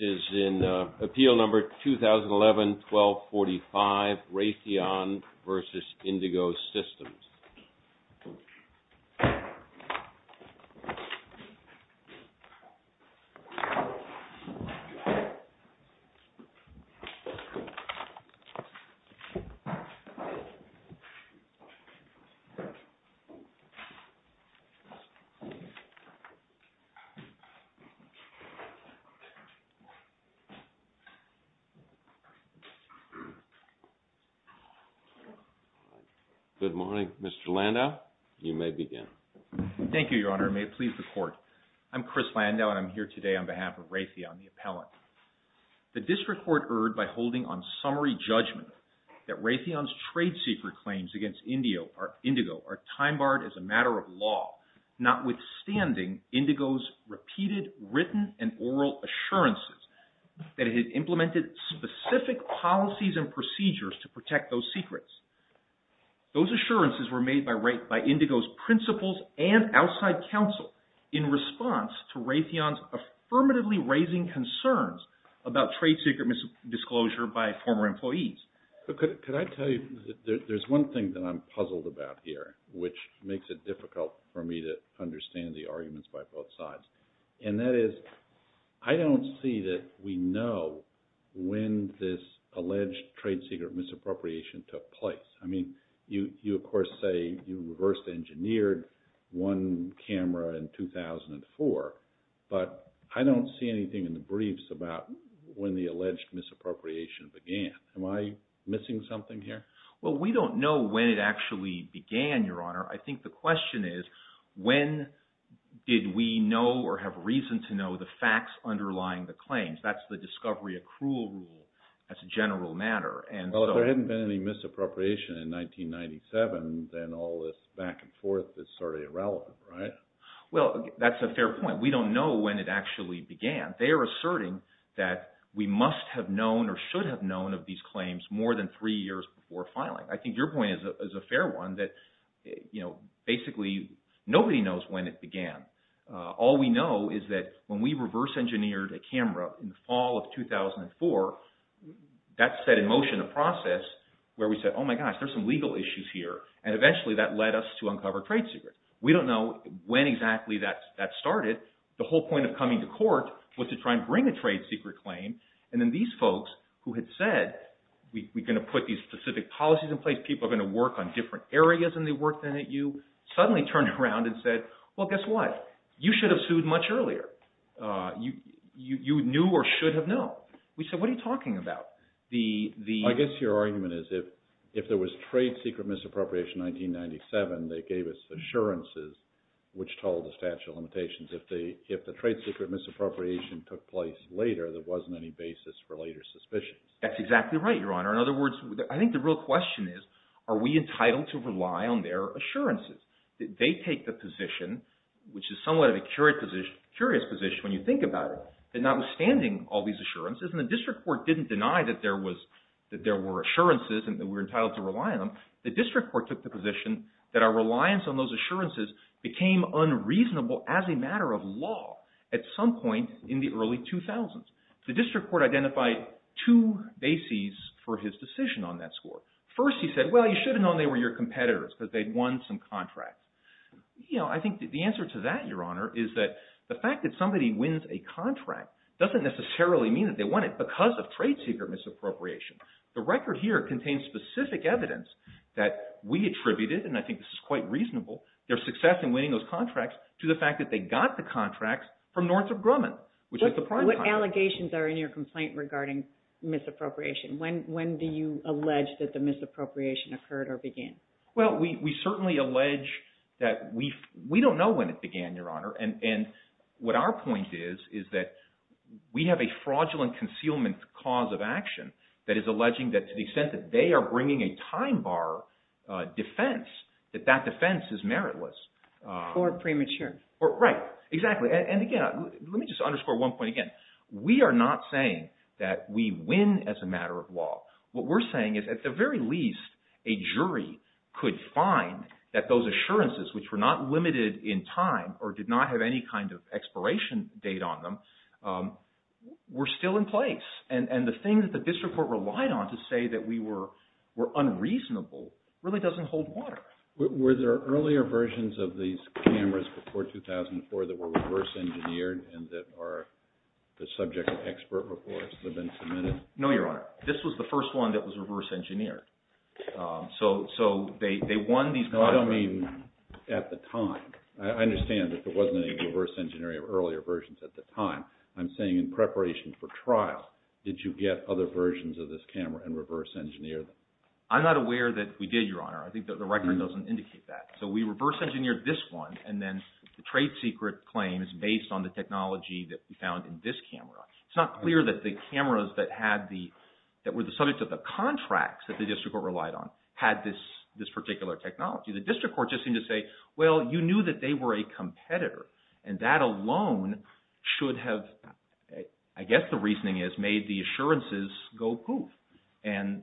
It is in Appeal No. 2011-1245, Raytheon v. Indigo Systems. Good morning, Mr. Landau. You may begin. Thank you, Your Honor, and may it please the Court. I'm Chris Landau, and I'm here today on behalf of Raytheon, the appellant. The District Court erred by holding on summary judgment that Raytheon's trade secret claims against Indigo are time-barred as a matter of law, notwithstanding Indigo's repeated written and oral assurances that it had implemented specific policies and procedures to protect those secrets. Those assurances were made by Indigo's principals and outside counsel in response to Raytheon's affirmatively raising concerns about trade secret disclosure by former employees. Could I tell you, there's one thing that I'm puzzled about here, which makes it difficult for me to understand the arguments by both sides, and that is I don't see that we know when this alleged trade secret misappropriation took place. I mean, you, of course, say you reverse-engineered one camera in 2004, but I don't see anything in the briefs about when the alleged misappropriation began. Am I missing something here? Well, we don't know when it actually began, Your Honor. I think the question is when did we know or have reason to know the facts underlying the claims? That's the discovery accrual rule as a general matter. Well, if there hadn't been any misappropriation in 1997, then all this back and forth is sort of irrelevant, right? Well, that's a fair point. We don't know when it actually began. They are asserting that we must have known or should have known of these claims more than three years before filing. I think your point is a fair one, that basically nobody knows when it began. All we know is that when we reverse-engineered a camera in the fall of 2004, that set in motion a process where we said, oh my gosh, there's some legal issues here, and eventually that led us to uncover trade secrets. We don't know when exactly that started. The whole point of coming to court was to try and bring a trade secret claim, and then these folks who had said, we're going to put these specific policies in place, people are going to work on different areas than they worked in at U, suddenly turned around and said, well, guess what? You should have sued much earlier. You knew or should have known. We said, what are you talking about? I guess your argument is if there was trade secret misappropriation in 1997, they gave us assurances which told the statute of limitations. If the trade secret misappropriation took place later, there wasn't any basis for later suspicions. That's exactly right, Your Honor. In other words, I think the real question is, are we entitled to rely on their assurances? They take the position, which is somewhat of a curious position when you think about it, that notwithstanding all these assurances, and the district court didn't deny that there were assurances and that we were entitled to rely on them, the district court took the position that our reliance on those assurances became unreasonable as a matter of law at some point in the early 2000s. The district court identified two bases for his decision on that score. First, he said, well, you should have known they were your competitors because they'd won some contracts. I think the answer to that, Your Honor, is that the fact that somebody wins a contract doesn't necessarily mean that they won it because of trade secret misappropriation. The record here contains specific evidence that we attributed, and I think this is quite reasonable, their success in winning those contracts to the fact that they got the contracts from Northrop Grumman. What allegations are in your complaint regarding misappropriation? When do you allege that the misappropriation occurred or began? Well, we certainly allege that we don't know when it began, Your Honor, and what our point is is that we have a fraudulent concealment cause of action that is alleging that to the extent that they are bringing a time bar defense, that that defense is meritless. Or premature. Right, exactly, and again, let me just underscore one point again. We are not saying that we win as a matter of law. What we're saying is, at the very least, a jury could find that those assurances, which were not limited in time or did not have any kind of expiration date on them, were still in place. And the thing that the district court relied on to say that we were unreasonable really doesn't hold water. Were there earlier versions of these cameras before 2004 that were reverse engineered and that are the subject of expert reports that have been submitted? No, Your Honor. This was the first one that was reverse engineered. So they won these… No, I don't mean at the time. I understand that there wasn't any reverse engineering of earlier versions at the time. I'm saying in preparation for trial, did you get other versions of this camera and reverse engineer them? I'm not aware that we did, Your Honor. I think that the record doesn't indicate that. So we reverse engineered this one, and then the trade secret claim is based on the technology that we found in this camera. It's not clear that the cameras that were the subject of the contracts that the district court relied on had this particular technology. The district court just seemed to say, well, you knew that they were a competitor, and that alone should have, I guess the reasoning is, made the assurances go poof. And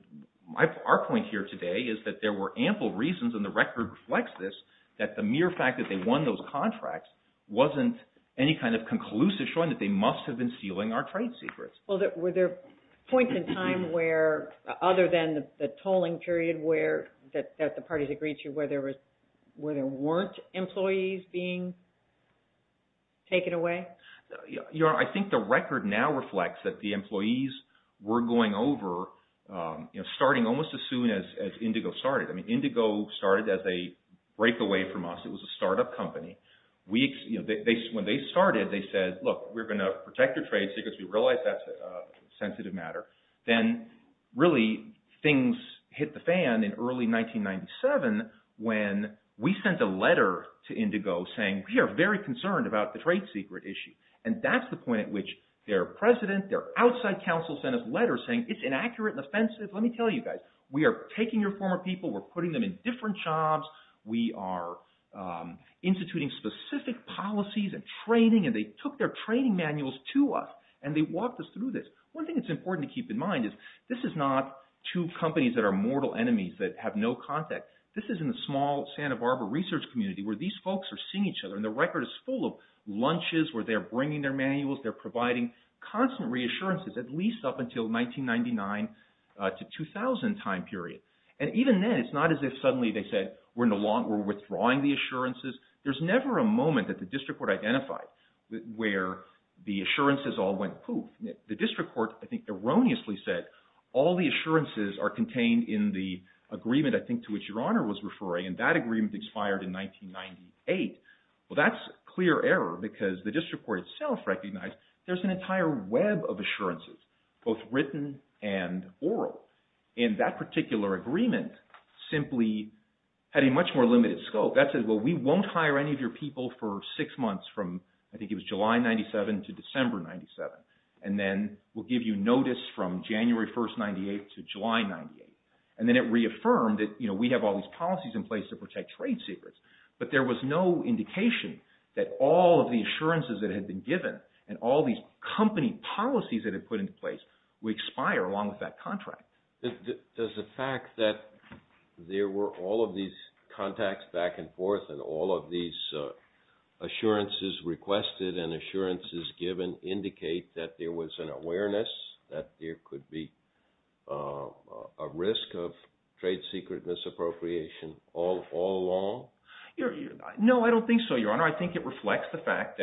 our point here today is that there were ample reasons, and the record reflects this, that the mere fact that they won those contracts wasn't any kind of conclusive showing that they must have been stealing our trade secrets. Well, were there points in time where, other than the tolling period that the parties agreed to, where there weren't employees being taken away? Your Honor, I think the record now reflects that the employees were going over, starting almost as soon as Indigo started. Indigo started as a breakaway from us. It was a startup company. When they started, they said, look, we're going to protect your trade secrets. We realize that's a sensitive matter. Then, really, things hit the fan in early 1997 when we sent a letter to Indigo saying, we are very concerned about the trade secret issue. And that's the point at which their president, their outside counsel sent us letters saying, it's inaccurate and offensive. Let me tell you guys, we are taking your former people, we're putting them in different jobs, we are instituting specific policies and training, and they took their training manuals to us. And they walked us through this. One thing that's important to keep in mind is this is not two companies that are mortal enemies that have no contact. This is in a small Santa Barbara research community where these folks are seeing each other, and the record is full of lunches where they're bringing their manuals, they're providing constant reassurances, at least up until 1999 to 2000 time period. And even then, it's not as if suddenly they said, we're withdrawing the assurances. There's never a moment that the district court identified where the assurances all went poof. The district court, I think, erroneously said, all the assurances are contained in the agreement, I think, to which Your Honor was referring, and that agreement expired in 1998. Well, that's clear error because the district court itself recognized there's an entire web of assurances, both written and oral. And that particular agreement simply had a much more limited scope. That said, well, we won't hire any of your people for six months from, I think it was July 1997 to December 1997. And then we'll give you notice from January 1st, 1998 to July 1998. And then it reaffirmed that we have all these policies in place to protect trade secrets. But there was no indication that all of the assurances that had been given and all these company policies that had been put into place would expire along with that contract. Does the fact that there were all of these contacts back and forth and all of these assurances requested and assurances given indicate that there was an awareness that there could be a risk of trade secret misappropriation all along? No, I don't think so, Your Honor. I think it reflects the fact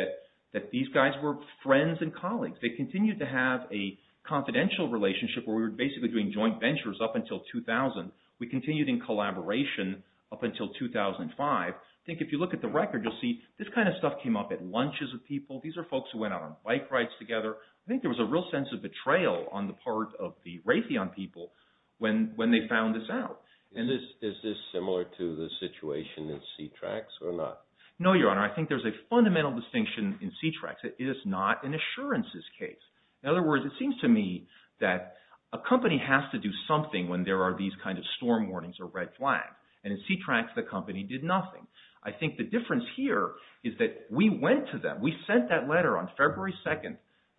that these guys were friends and colleagues. They continued to have a confidential relationship where we were basically doing joint ventures up until 2000. We continued in collaboration up until 2005. I think if you look at the record, you'll see this kind of stuff came up at lunches with people. These are folks who went out on bike rides together. I think there was a real sense of betrayal on the part of the Raytheon people when they found this out. And is this similar to the situation in C-TRAX or not? No, Your Honor. I think there's a fundamental distinction in C-TRAX. It is not an assurances case. In other words, it seems to me that a company has to do something when there are these kinds of storm warnings or red flags. And in C-TRAX, the company did nothing. I think the difference here is that we went to them. We sent that letter on February 2,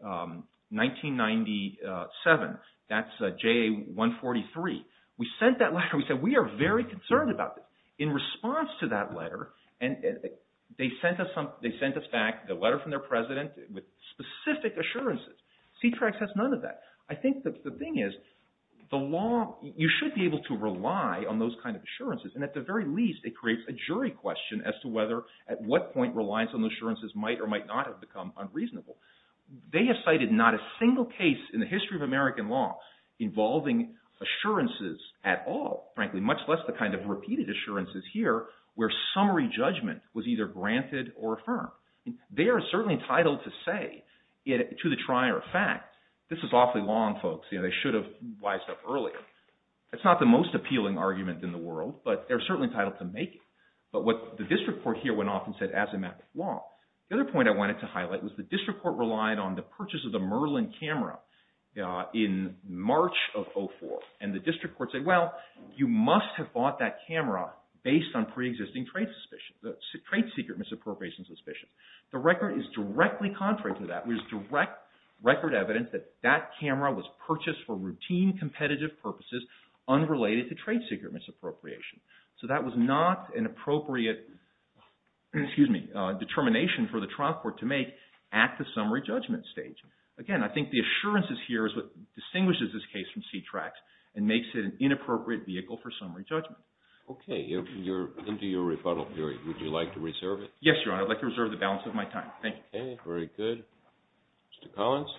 1997. That's JA-143. We sent that letter. We said we are very concerned about this. In response to that letter, they sent us back the letter from their president with specific assurances. C-TRAX has none of that. I think the thing is, you should be able to rely on those kinds of assurances. And at the very least, it creates a jury question as to whether at what point reliance on the assurances might or might not have become unreasonable. They have cited not a single case in the history of American law involving assurances at all, frankly, much less the kind of repeated assurances here where summary judgment was either granted or affirmed. They are certainly entitled to say, to the trier of fact, this is awfully long, folks. They should have wised up earlier. It's not the most appealing argument in the world, but they're certainly entitled to make it. But what the district court here went off and said, as a matter of law. The other point I wanted to highlight was the district court relied on the purchase of the Merlin camera in March of 2004. And the district court said, well, you must have bought that camera based on preexisting trade suspicion, trade secret misappropriation suspicion. The record is directly contrary to that. There is direct record evidence that that camera was purchased for routine competitive purposes unrelated to trade secret misappropriation. So that was not an appropriate determination for the trial court to make at the summary judgment stage. Again, I think the assurances here is what distinguishes this case from C-TRAX and makes it an inappropriate vehicle for summary judgment. Okay. You're into your rebuttal period. Would you like to reserve it? Yes, Your Honor. I'd like to reserve the balance of my time. Thank you. Okay. Very good. Mr. Collins.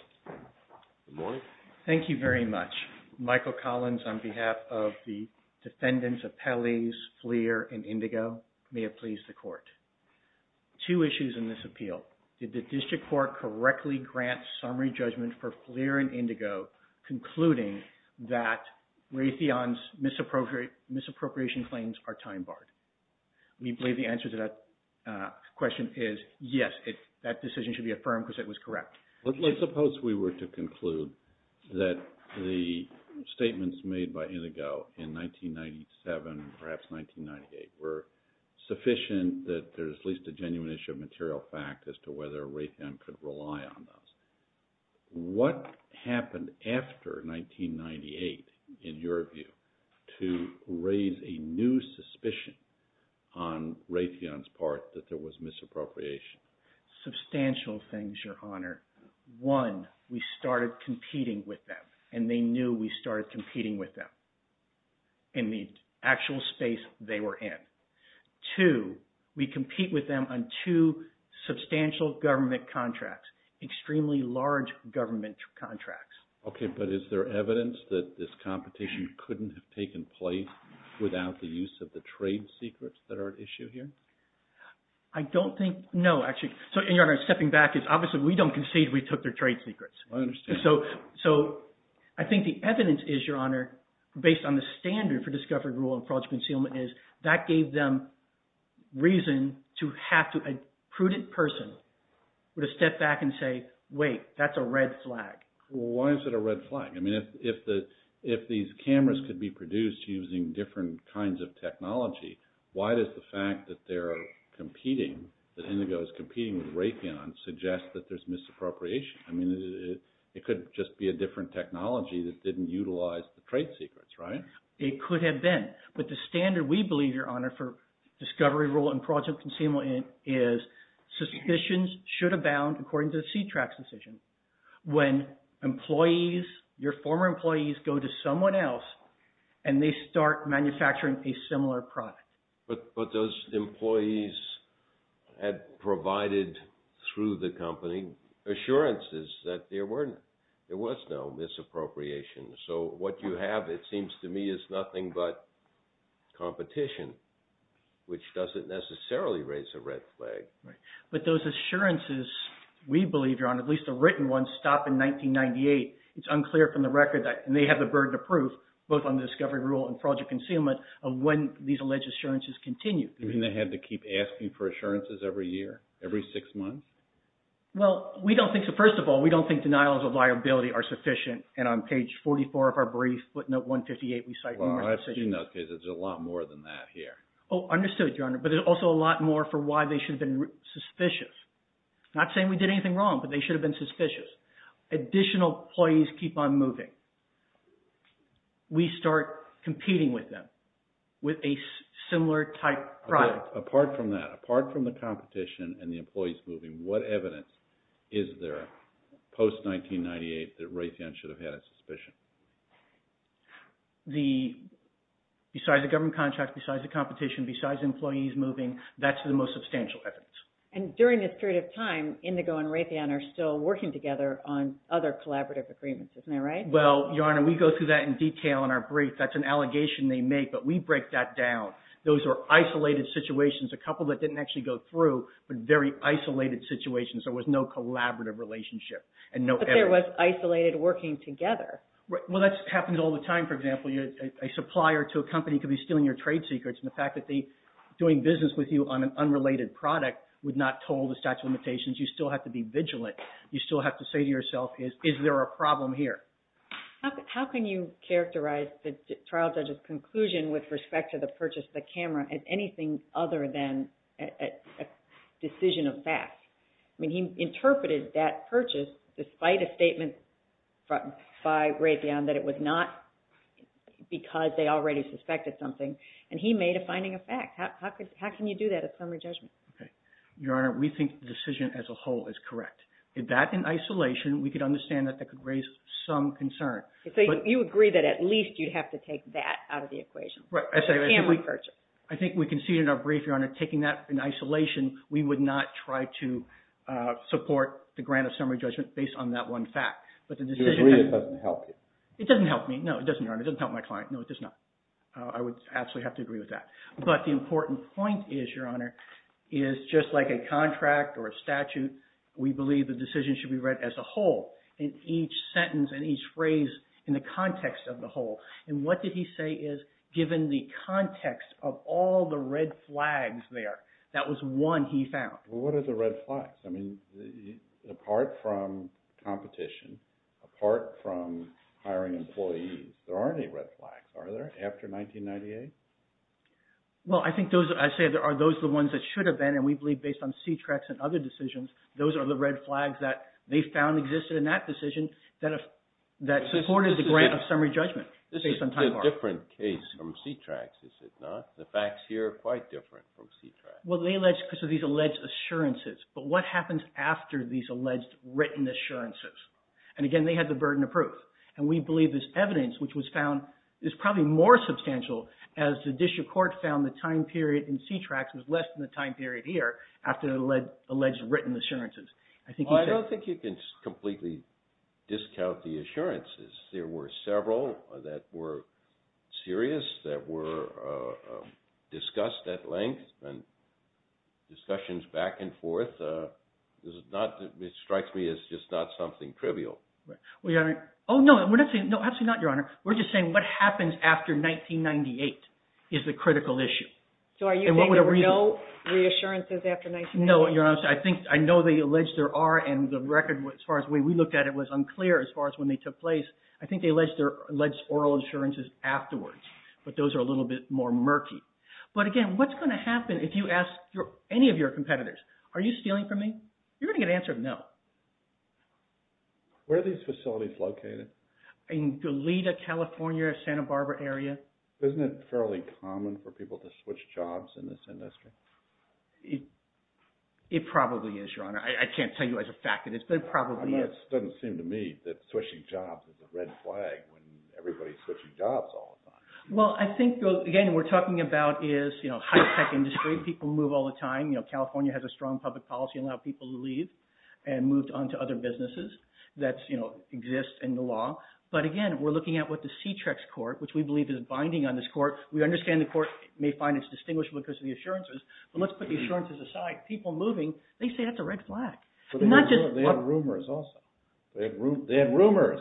Good morning. Thank you very much. Michael Collins on behalf of the defendants of Pelley's, Fleer, and Indigo. May it please the Court. Two issues in this appeal. Did the district court correctly grant summary judgment for Fleer and Indigo concluding that Raytheon's misappropriation claims are time barred? We believe the answer to that question is yes. That decision should be affirmed because it was correct. Let's suppose we were to conclude that the statements made by Indigo in 1997, perhaps 1998, were sufficient that there's at least a genuine issue of material fact as to whether Raytheon could rely on those. What happened after 1998, in your view, to raise a new suspicion on Raytheon's part that there was misappropriation? Substantial things, Your Honor. One, we started competing with them, and they knew we started competing with them in the actual space they were in. Two, we compete with them on two substantial government contracts, extremely large government contracts. Okay, but is there evidence that this competition couldn't have taken place without the use of the trade secrets that are at issue here? I don't think – no, actually. So, Your Honor, stepping back is obviously we don't concede we took their trade secrets. I understand. So, I think the evidence is, Your Honor, based on the standard for discovery rule and fraudulent concealment, is that gave them reason to have to – a prudent person would have stepped back and say, wait, that's a red flag. Why is it a red flag? I mean, if these cameras could be produced using different kinds of technology, why does the fact that they're competing, that Indigo is competing with Raytheon, suggest that there's misappropriation? I mean, it could just be a different technology that didn't utilize the trade secrets, right? It could have been, but the standard, we believe, Your Honor, for discovery rule and fraudulent concealment is suspicions should abound, according to the C-TRAX decision, when employees, your former employees, go to someone else and they start manufacturing a similar product. But those employees had provided through the company assurances that there was no misappropriation. So, what you have, it seems to me, is nothing but competition, which doesn't necessarily raise a red flag. But those assurances, we believe, Your Honor, at least the written ones, stop in 1998. It's unclear from the record, and they have the burden of proof, both on the discovery rule and fraudulent concealment, of when these alleged assurances continue. You mean they have to keep asking for assurances every year, every six months? Well, we don't think, so first of all, we don't think denials of liability are sufficient. And on page 44 of our brief, footnote 158, we cite... Well, I've seen those cases. There's a lot more than that here. Oh, understood, Your Honor. But there's also a lot more for why they should have been suspicious. I'm not saying we did anything wrong, but they should have been suspicious. Additional employees keep on moving. We start competing with them with a similar type product. Apart from that, apart from the competition and the employees moving, what evidence is there post-1998 that Raytheon should have had a suspicion? Besides the government contract, besides the competition, besides employees moving, that's the most substantial evidence. And during this period of time, Indigo and Raytheon are still working together on other collaborative agreements. Isn't that right? Well, Your Honor, we go through that in detail in our brief. That's an allegation they make, but we break that down. Those are isolated situations, a couple that didn't actually go through, but very isolated situations. There was no collaborative relationship. But there was isolated working together. Well, that happens all the time, for example. A supplier to a company could be stealing your trade secrets, and the fact that they're doing business with you on an unrelated product would not toll the statute of limitations. You still have to be vigilant. You still have to say to yourself, is there a problem here? How can you characterize the trial judge's conclusion with respect to the purchase of the camera as anything other than a decision of fact? I mean, he interpreted that purchase despite a statement by Raytheon that it was not because they already suspected something, and he made a finding of fact. How can you do that at summary judgment? Your Honor, we think the decision as a whole is correct. If that's in isolation, we could understand that that could raise some concern. So you agree that at least you'd have to take that out of the equation? Right. The camera purchase. I think we conceded in our brief, Your Honor, taking that in isolation, we would not try to support the grant of summary judgment based on that one fact. But the decision… You agree it doesn't help you. It doesn't help me. No, it doesn't, Your Honor. It doesn't help my client. No, it does not. I would absolutely have to agree with that. But the important point is, Your Honor, is just like a contract or a statute, we believe the decision should be read as a whole, in each sentence and each phrase in the context of the whole. And what did he say is, given the context of all the red flags there, that was one he found. Well, what are the red flags? I mean, apart from competition, apart from hiring employees, there aren't any red flags, are there, after 1998? Well, I think those, I say, are those the ones that should have been, and we believe based on C-TRAX and other decisions, those are the red flags that they found existed in that decision that supported the grant of summary judgment. This is a different case from C-TRAX, is it not? The facts here are quite different from C-TRAX. Well, they alleged because of these alleged assurances. But what happens after these alleged written assurances? And again, they had the burden of proof. And we believe this evidence, which was found, is probably more substantial as the district court found the time period in C-TRAX was less than the time period here after the alleged written assurances. I don't think you can completely discount the assurances. There were several that were serious, that were discussed at length, and discussions back and forth. It strikes me as just not something trivial. Oh, no, absolutely not, Your Honor. We're just saying what happens after 1998 is the critical issue. So are you saying there were no reassurances after 1998? No, Your Honor. I know they allege there are, and the record, as far as the way we looked at it, was unclear as far as when they took place. I think they alleged oral assurances afterwards. But those are a little bit more murky. But again, what's going to happen if you ask any of your competitors, are you stealing from me? You're going to get an answer of no. Where are these facilities located? In Goleta, California, Santa Barbara area. Isn't it fairly common for people to switch jobs in this industry? It probably is, Your Honor. I can't tell you as a fact that it is, but it probably is. It doesn't seem to me that switching jobs is a red flag when everybody's switching jobs all the time. Well, I think, again, what we're talking about is high-tech industry. People move all the time. California has a strong public policy to allow people to leave. And moved on to other businesses that exist in the law. But again, we're looking at what the C-TREX court, which we believe is binding on this court. We understand the court may find it's distinguishable because of the assurances. But let's put the assurances aside. People moving, they say that's a red flag. They have rumors also. They have rumors.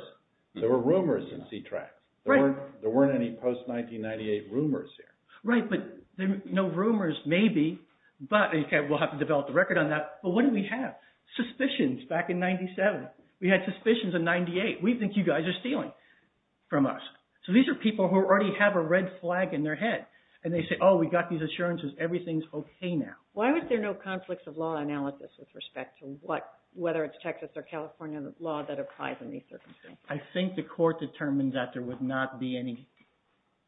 There were rumors in C-TREX. There weren't any post-1998 rumors there. Right, but no rumors, maybe. But we'll have to develop the record on that. But what do we have? Suspicions back in 97. We had suspicions in 98. We think you guys are stealing from us. So these are people who already have a red flag in their head. And they say, oh, we got these assurances. Everything's okay now. Why was there no conflicts of law analysis with respect to whether it's Texas or California law that applies in these circumstances? I think the court determined that there would not be any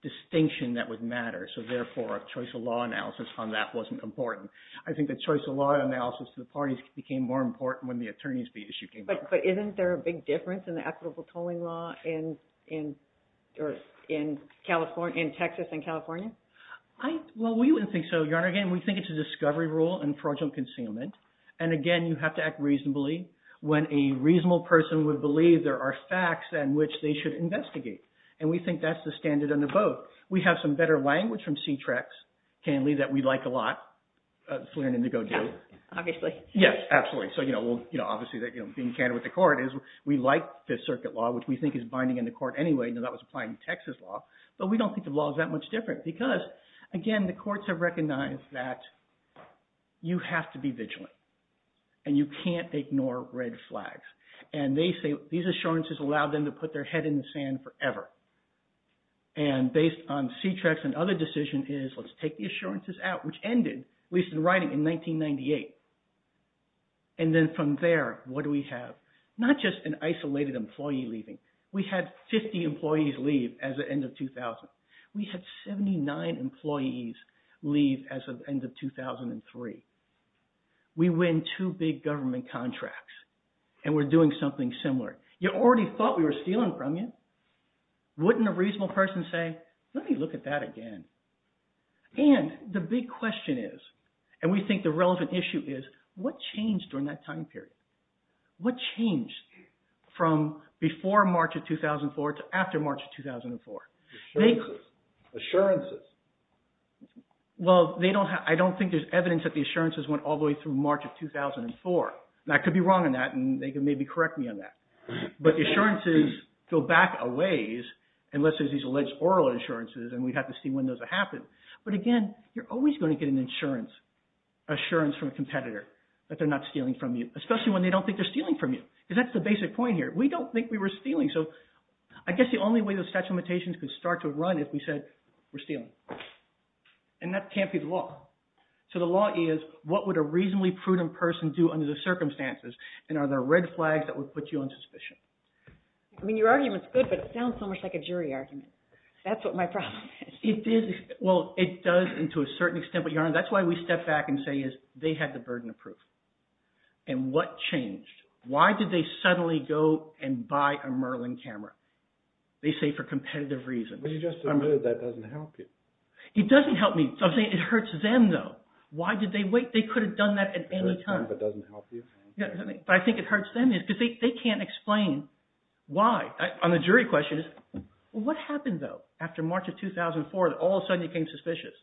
distinction that would matter. So therefore, a choice of law analysis on that wasn't important. I think the choice of law analysis to the parties became more important when the attorneys issue came up. But isn't there a big difference in the equitable tolling law in Texas and California? Well, we wouldn't think so, Your Honor. Again, we think it's a discovery rule and fraudulent concealment. And again, you have to act reasonably when a reasonable person would believe there are facts on which they should investigate. And we think that's the standard under both. We have some better language from C-TREX, Candley, that we like a lot. It's learning to go do. Obviously. Yes, absolutely. So obviously being candid with the court is we like Fifth Circuit law, which we think is binding in the court anyway. That was applying to Texas law. But we don't think the law is that much different because, again, the courts have recognized that you have to be vigilant. And you can't ignore red flags. And they say these assurances allow them to put their head in the sand forever. And based on C-TREX, another decision is let's take the assurances out, which ended, at least in writing, in 1998. And then from there, what do we have? Not just an isolated employee leaving. We had 50 employees leave as of end of 2000. We had 79 employees leave as of end of 2003. We win two big government contracts and we're doing something similar. You already thought we were stealing from you. Wouldn't a reasonable person say, let me look at that again? And the big question is, and we think the relevant issue is, what changed during that time period? What changed from before March of 2004 to after March of 2004? Assurances. Assurances. Well, I don't think there's evidence that the assurances went all the way through March of 2004. And I could be wrong on that and they could maybe correct me on that. But assurances go back a ways unless there's these alleged oral assurances and we'd have to see when those would happen. But again, you're always going to get an assurance from a competitor that they're not stealing from you, especially when they don't think they're stealing from you. Because that's the basic point here. We don't think we were stealing. So I guess the only way those statute of limitations could start to run is if we said we're stealing. And that can't be the law. So the law is, what would a reasonably prudent person do under the circumstances? And are there red flags that would put you on suspicion? I mean, your argument's good, but it sounds so much like a jury argument. That's what my problem is. Well, it does to a certain extent. But that's why we step back and say they had the burden of proof. And what changed? Why did they suddenly go and buy a Merlin camera? They say for competitive reasons. But you just admitted that doesn't help you. It doesn't help me. I'm saying it hurts them, though. Why did they wait? They could have done that at any time. But I think it hurts them because they can't explain why. On the jury question, what happened, though, after March of 2004 that all of a sudden you became suspicious?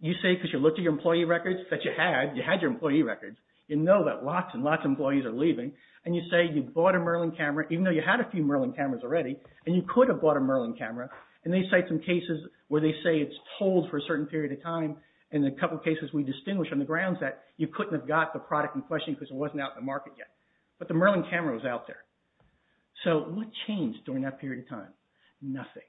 You say because you looked at your employee records that you had. You had your employee records. You know that lots and lots of employees are leaving. And you say you bought a Merlin camera, even though you had a few Merlin cameras already. And you could have bought a Merlin camera. And they cite some cases where they say it's told for a certain period of time. And a couple cases we distinguish on the grounds that you couldn't have got the product in question because it wasn't out in the market yet. But the Merlin camera was out there. So, what changed during that period of time? Nothing.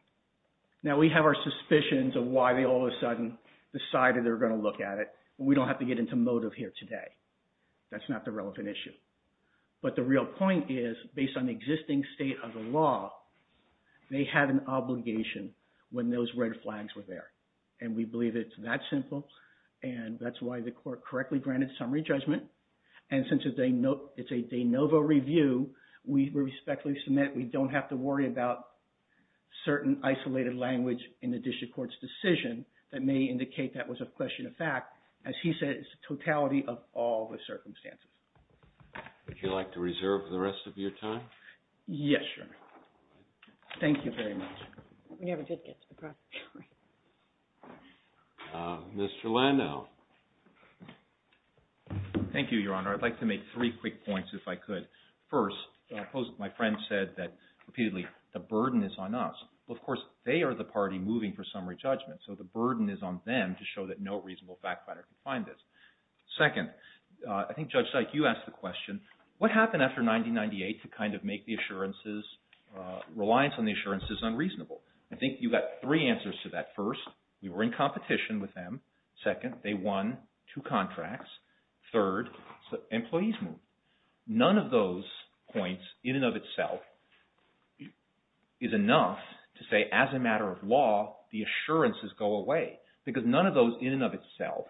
Now, we have our suspicions of why they all of a sudden decided they were going to look at it. We don't have to get into motive here today. That's not the relevant issue. But the real point is, based on the existing state of the law, they had an obligation when those red flags were there. And we believe it's that simple. And that's why the court correctly granted summary judgment. And since it's a de novo review, we respectfully submit we don't have to worry about certain isolated language in the district court's decision that may indicate that was a question of fact. As he said, it's the totality of all the circumstances. Would you like to reserve the rest of your time? Yes, Your Honor. Thank you very much. We never did get to the process. Mr. Landau. Thank you, Your Honor. I'd like to make three quick points if I could. First, my friend said that repeatedly, the burden is on us. Well, of course, they are the party moving for summary judgment. So, the burden is on them to show that no reasonable fact finder can find this. Second, I think Judge Sykes, you asked the question, what happened after 1998 to kind of make the assurances, reliance on the assurances unreasonable? I think you got three answers to that. First, you were in competition with them. Second, they won two contracts. Third, employees moved. None of those points in and of itself is enough to say, as a matter of law, the assurances go away. Because none of those in and of itself,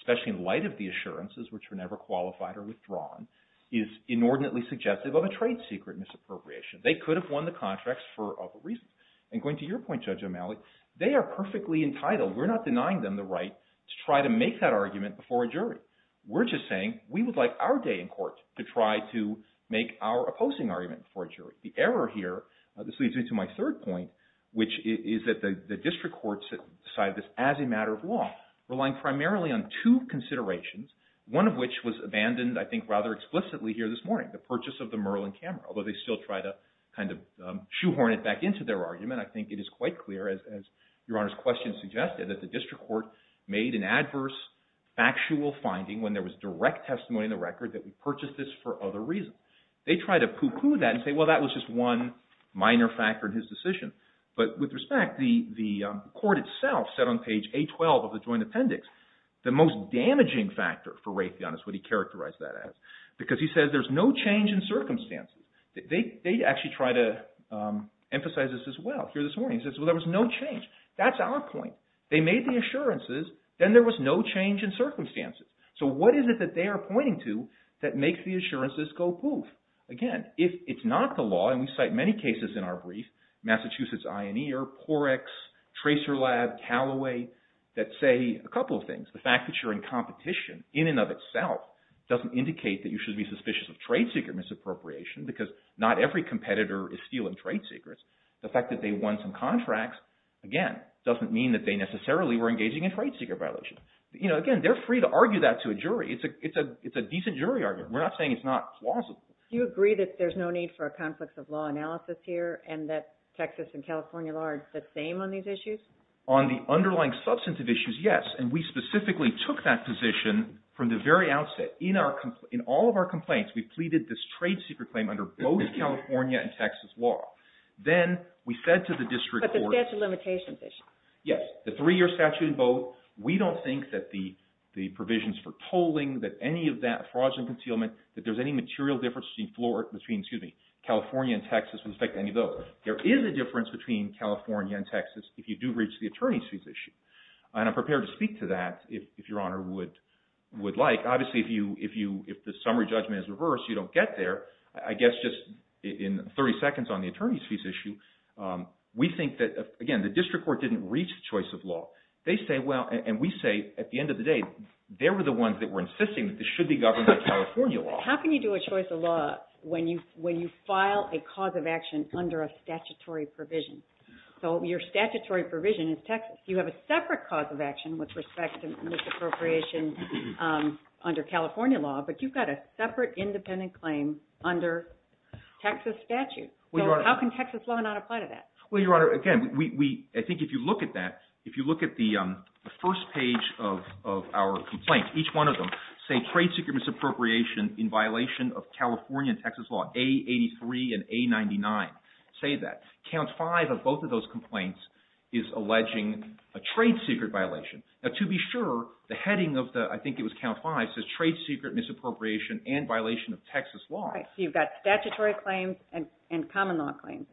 especially in light of the assurances, which were never qualified or withdrawn, is inordinately suggestive of a trade secret misappropriation. They could have won the contracts for other reasons. And going to your point, Judge O'Malley, they are perfectly entitled. We're not denying them the right to try to make that argument before a jury. We're just saying we would like our day in court to try to make our opposing argument before a jury. The error here, this leads me to my third point, which is that the district courts decided this as a matter of law, relying primarily on two considerations, one of which was abandoned, I think, rather explicitly here this morning, the purchase of the Merlin camera. Although they still try to kind of shoehorn it back into their argument, I think it is quite clear, as Your Honor's question suggested, that the district court made an adverse factual finding when there was direct testimony in the record that we purchased this for other reasons. They try to pooh-pooh that and say, well, that was just one minor factor in his decision. But with respect, the court itself said on page 812 of the joint appendix, the most damaging factor for Raytheon is what he characterized that as. Because he says there's no change in circumstances. They actually try to emphasize this as well here this morning. He says, well, there was no change. That's our point. They made the assurances. Then there was no change in circumstances. So what is it that they are pointing to that makes the assurances go poof? Again, if it's not the law, and we cite many cases in our brief, Massachusetts Eye and Ear, Porex, Tracer Lab, Callaway, that say a couple of things. The fact that you're in competition in and of itself doesn't indicate that you should be suspicious of trade secret misappropriation because not every competitor is stealing trade secrets. The fact that they won some contracts, again, doesn't mean that they necessarily were engaging in trade secret violations. Again, they're free to argue that to a jury. It's a decent jury argument. We're not saying it's not plausible. Do you agree that there's no need for a conflict of law analysis here and that Texas and California are the same on these issues? On the underlying substantive issues, yes, and we specifically took that position from the very outset. In all of our complaints, we pleaded this trade secret claim under both California and Texas law. Then we said to the district court— But the statute of limitations issue. Yes, the three-year statute in both. We don't think that the provisions for tolling, that any of that fraudulent concealment, that there's any material difference between California and Texas with respect to any of those. There is a difference between California and Texas if you do reach the attorneys' fees issue, and I'm prepared to speak to that if Your Honor would like. Obviously, if the summary judgment is reversed, you don't get there. I guess just in 30 seconds on the attorneys' fees issue, we think that, again, the district court didn't reach the choice of law. They say, well—and we say at the end of the day, they were the ones that were insisting that this should be governed by California law. How can you do a choice of law when you file a cause of action under a statutory provision? So your statutory provision is Texas. You have a separate cause of action with respect to misappropriation under California law, but you've got a separate independent claim under Texas statute. So how can Texas law not apply to that? Well, Your Honor, again, I think if you look at that, if you look at the first page of our complaint, each one of them say trade secret misappropriation in violation of California and Texas law, A83 and A99 say that. Count five of both of those complaints is alleging a trade secret violation. Now, to be sure, the heading of the—I think it was count five—says trade secret misappropriation and violation of Texas law. So you've got statutory claims and common law claims,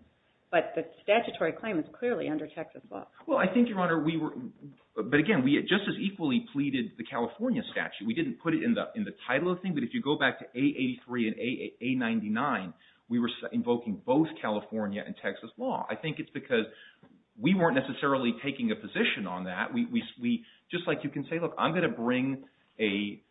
but the statutory claim is clearly under Texas law. Well, I think, Your Honor, we were—but again, we just as equally pleaded the California statute. We didn't put it in the title of the thing, but if you go back to A83 and A99, we were invoking both California and Texas law. I think it's because we weren't necessarily taking a position on that. Just like you can say, look, I'm going to bring a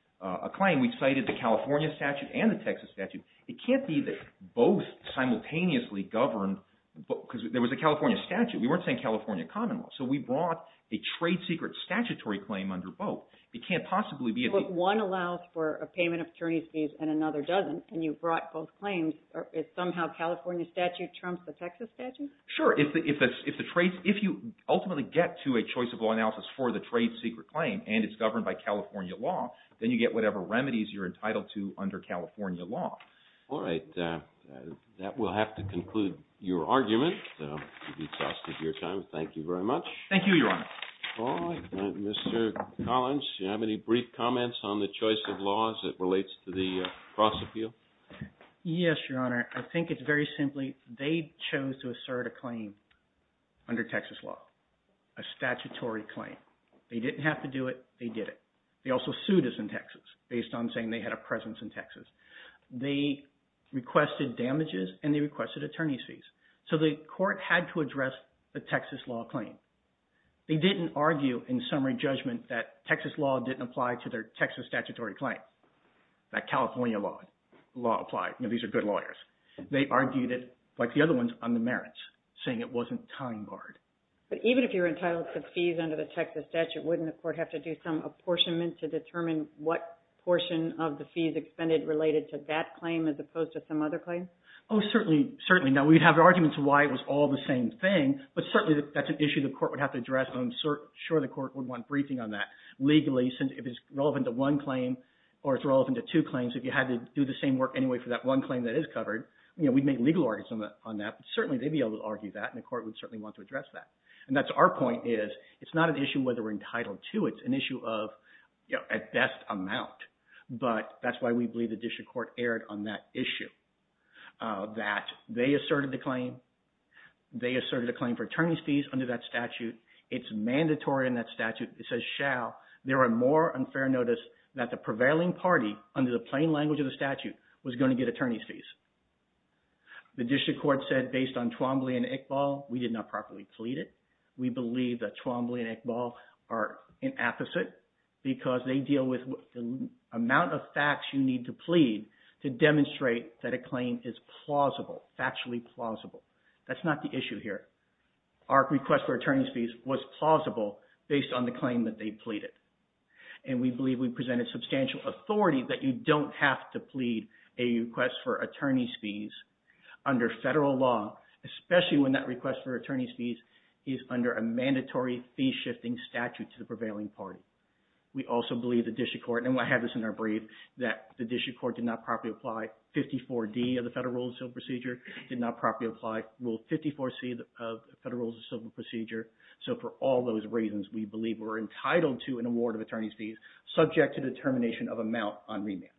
claim. We cited the California statute and the Texas statute. It can't be that both simultaneously govern—because there was a California statute. We weren't saying California common law. So we brought a trade secret statutory claim under both. It can't possibly be— But one allows for a payment of attorney's fees and another doesn't, and you brought both claims. Somehow California statute trumps the Texas statute? Sure. If the trade—if you ultimately get to a choice of law analysis for the trade secret claim and it's governed by California law, then you get whatever remedies you're entitled to under California law. All right. That will have to conclude your argument. To be trusted, your time. Thank you very much. Thank you, Your Honor. All right. Mr. Collins, do you have any brief comments on the choice of laws that relates to the cross-appeal? Yes, Your Honor. I think it's very simply they chose to assert a claim under Texas law, a statutory claim. They didn't have to do it. They did it. They also sued us in Texas based on saying they had a presence in Texas. They requested damages and they requested attorney's fees. So the court had to address the Texas law claim. They didn't argue in summary judgment that Texas law didn't apply to their Texas statutory claim, that California law applied. These are good lawyers. They argued it, like the other ones, on the merits, saying it wasn't time barred. But even if you're entitled to fees under the Texas statute, wouldn't the court have to do some apportionment to determine what portion of the fees expended related to that claim as opposed to some other claims? Oh, certainly. Certainly. Now, we'd have arguments why it was all the same thing, but certainly that's an issue the court would have to address. I'm sure the court would want briefing on that legally since if it's relevant to one claim or it's relevant to two claims, if you had to do the same work anyway for that one claim that is covered, we'd make legal arguments on that. But certainly they'd be able to argue that and the court would certainly want to address that. And that's our point is it's not an issue whether we're entitled to. It's an issue of at best amount. But that's why we believe the district court erred on that issue, that they asserted the claim. They asserted a claim for attorney's fees under that statute. It's mandatory in that statute. It says shall. There are more unfair notice that the prevailing party under the plain language of the statute was going to get attorney's fees. The district court said based on Twombly and Iqbal, we did not properly plead it. We believe that Twombly and Iqbal are an apposite because they deal with the amount of facts you need to plead to demonstrate that a claim is plausible, factually plausible. That's not the issue here. Our request for attorney's fees was plausible based on the claim that they pleaded. And we believe we presented substantial authority that you don't have to plead a request for attorney's fees under federal law, especially when that request for attorney's fees is under a mandatory fee-shifting statute to the prevailing party. We also believe the district court, and I have this in our brief, that the district court did not properly apply 54D of the Federal Rules of Civil Procedure, did not properly apply Rule 54C of Federal Rules of Civil Procedure. So for all those reasons, we believe we're entitled to an award of attorney's fees subject to determination of amount on remand.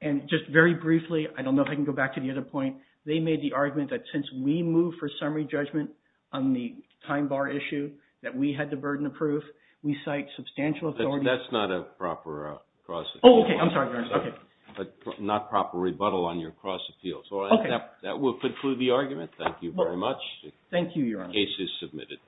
And just very briefly, I don't know if I can go back to the other point. They made the argument that since we moved for summary judgment on the time bar issue that we had the burden of proof, we cite substantial authority. That's not a proper cross-appeal. Oh, okay. I'm sorry, Your Honor. Okay. Not proper rebuttal on your cross-appeals. Okay. That will conclude the argument. Thank you very much. Thank you, Your Honor. The case is submitted.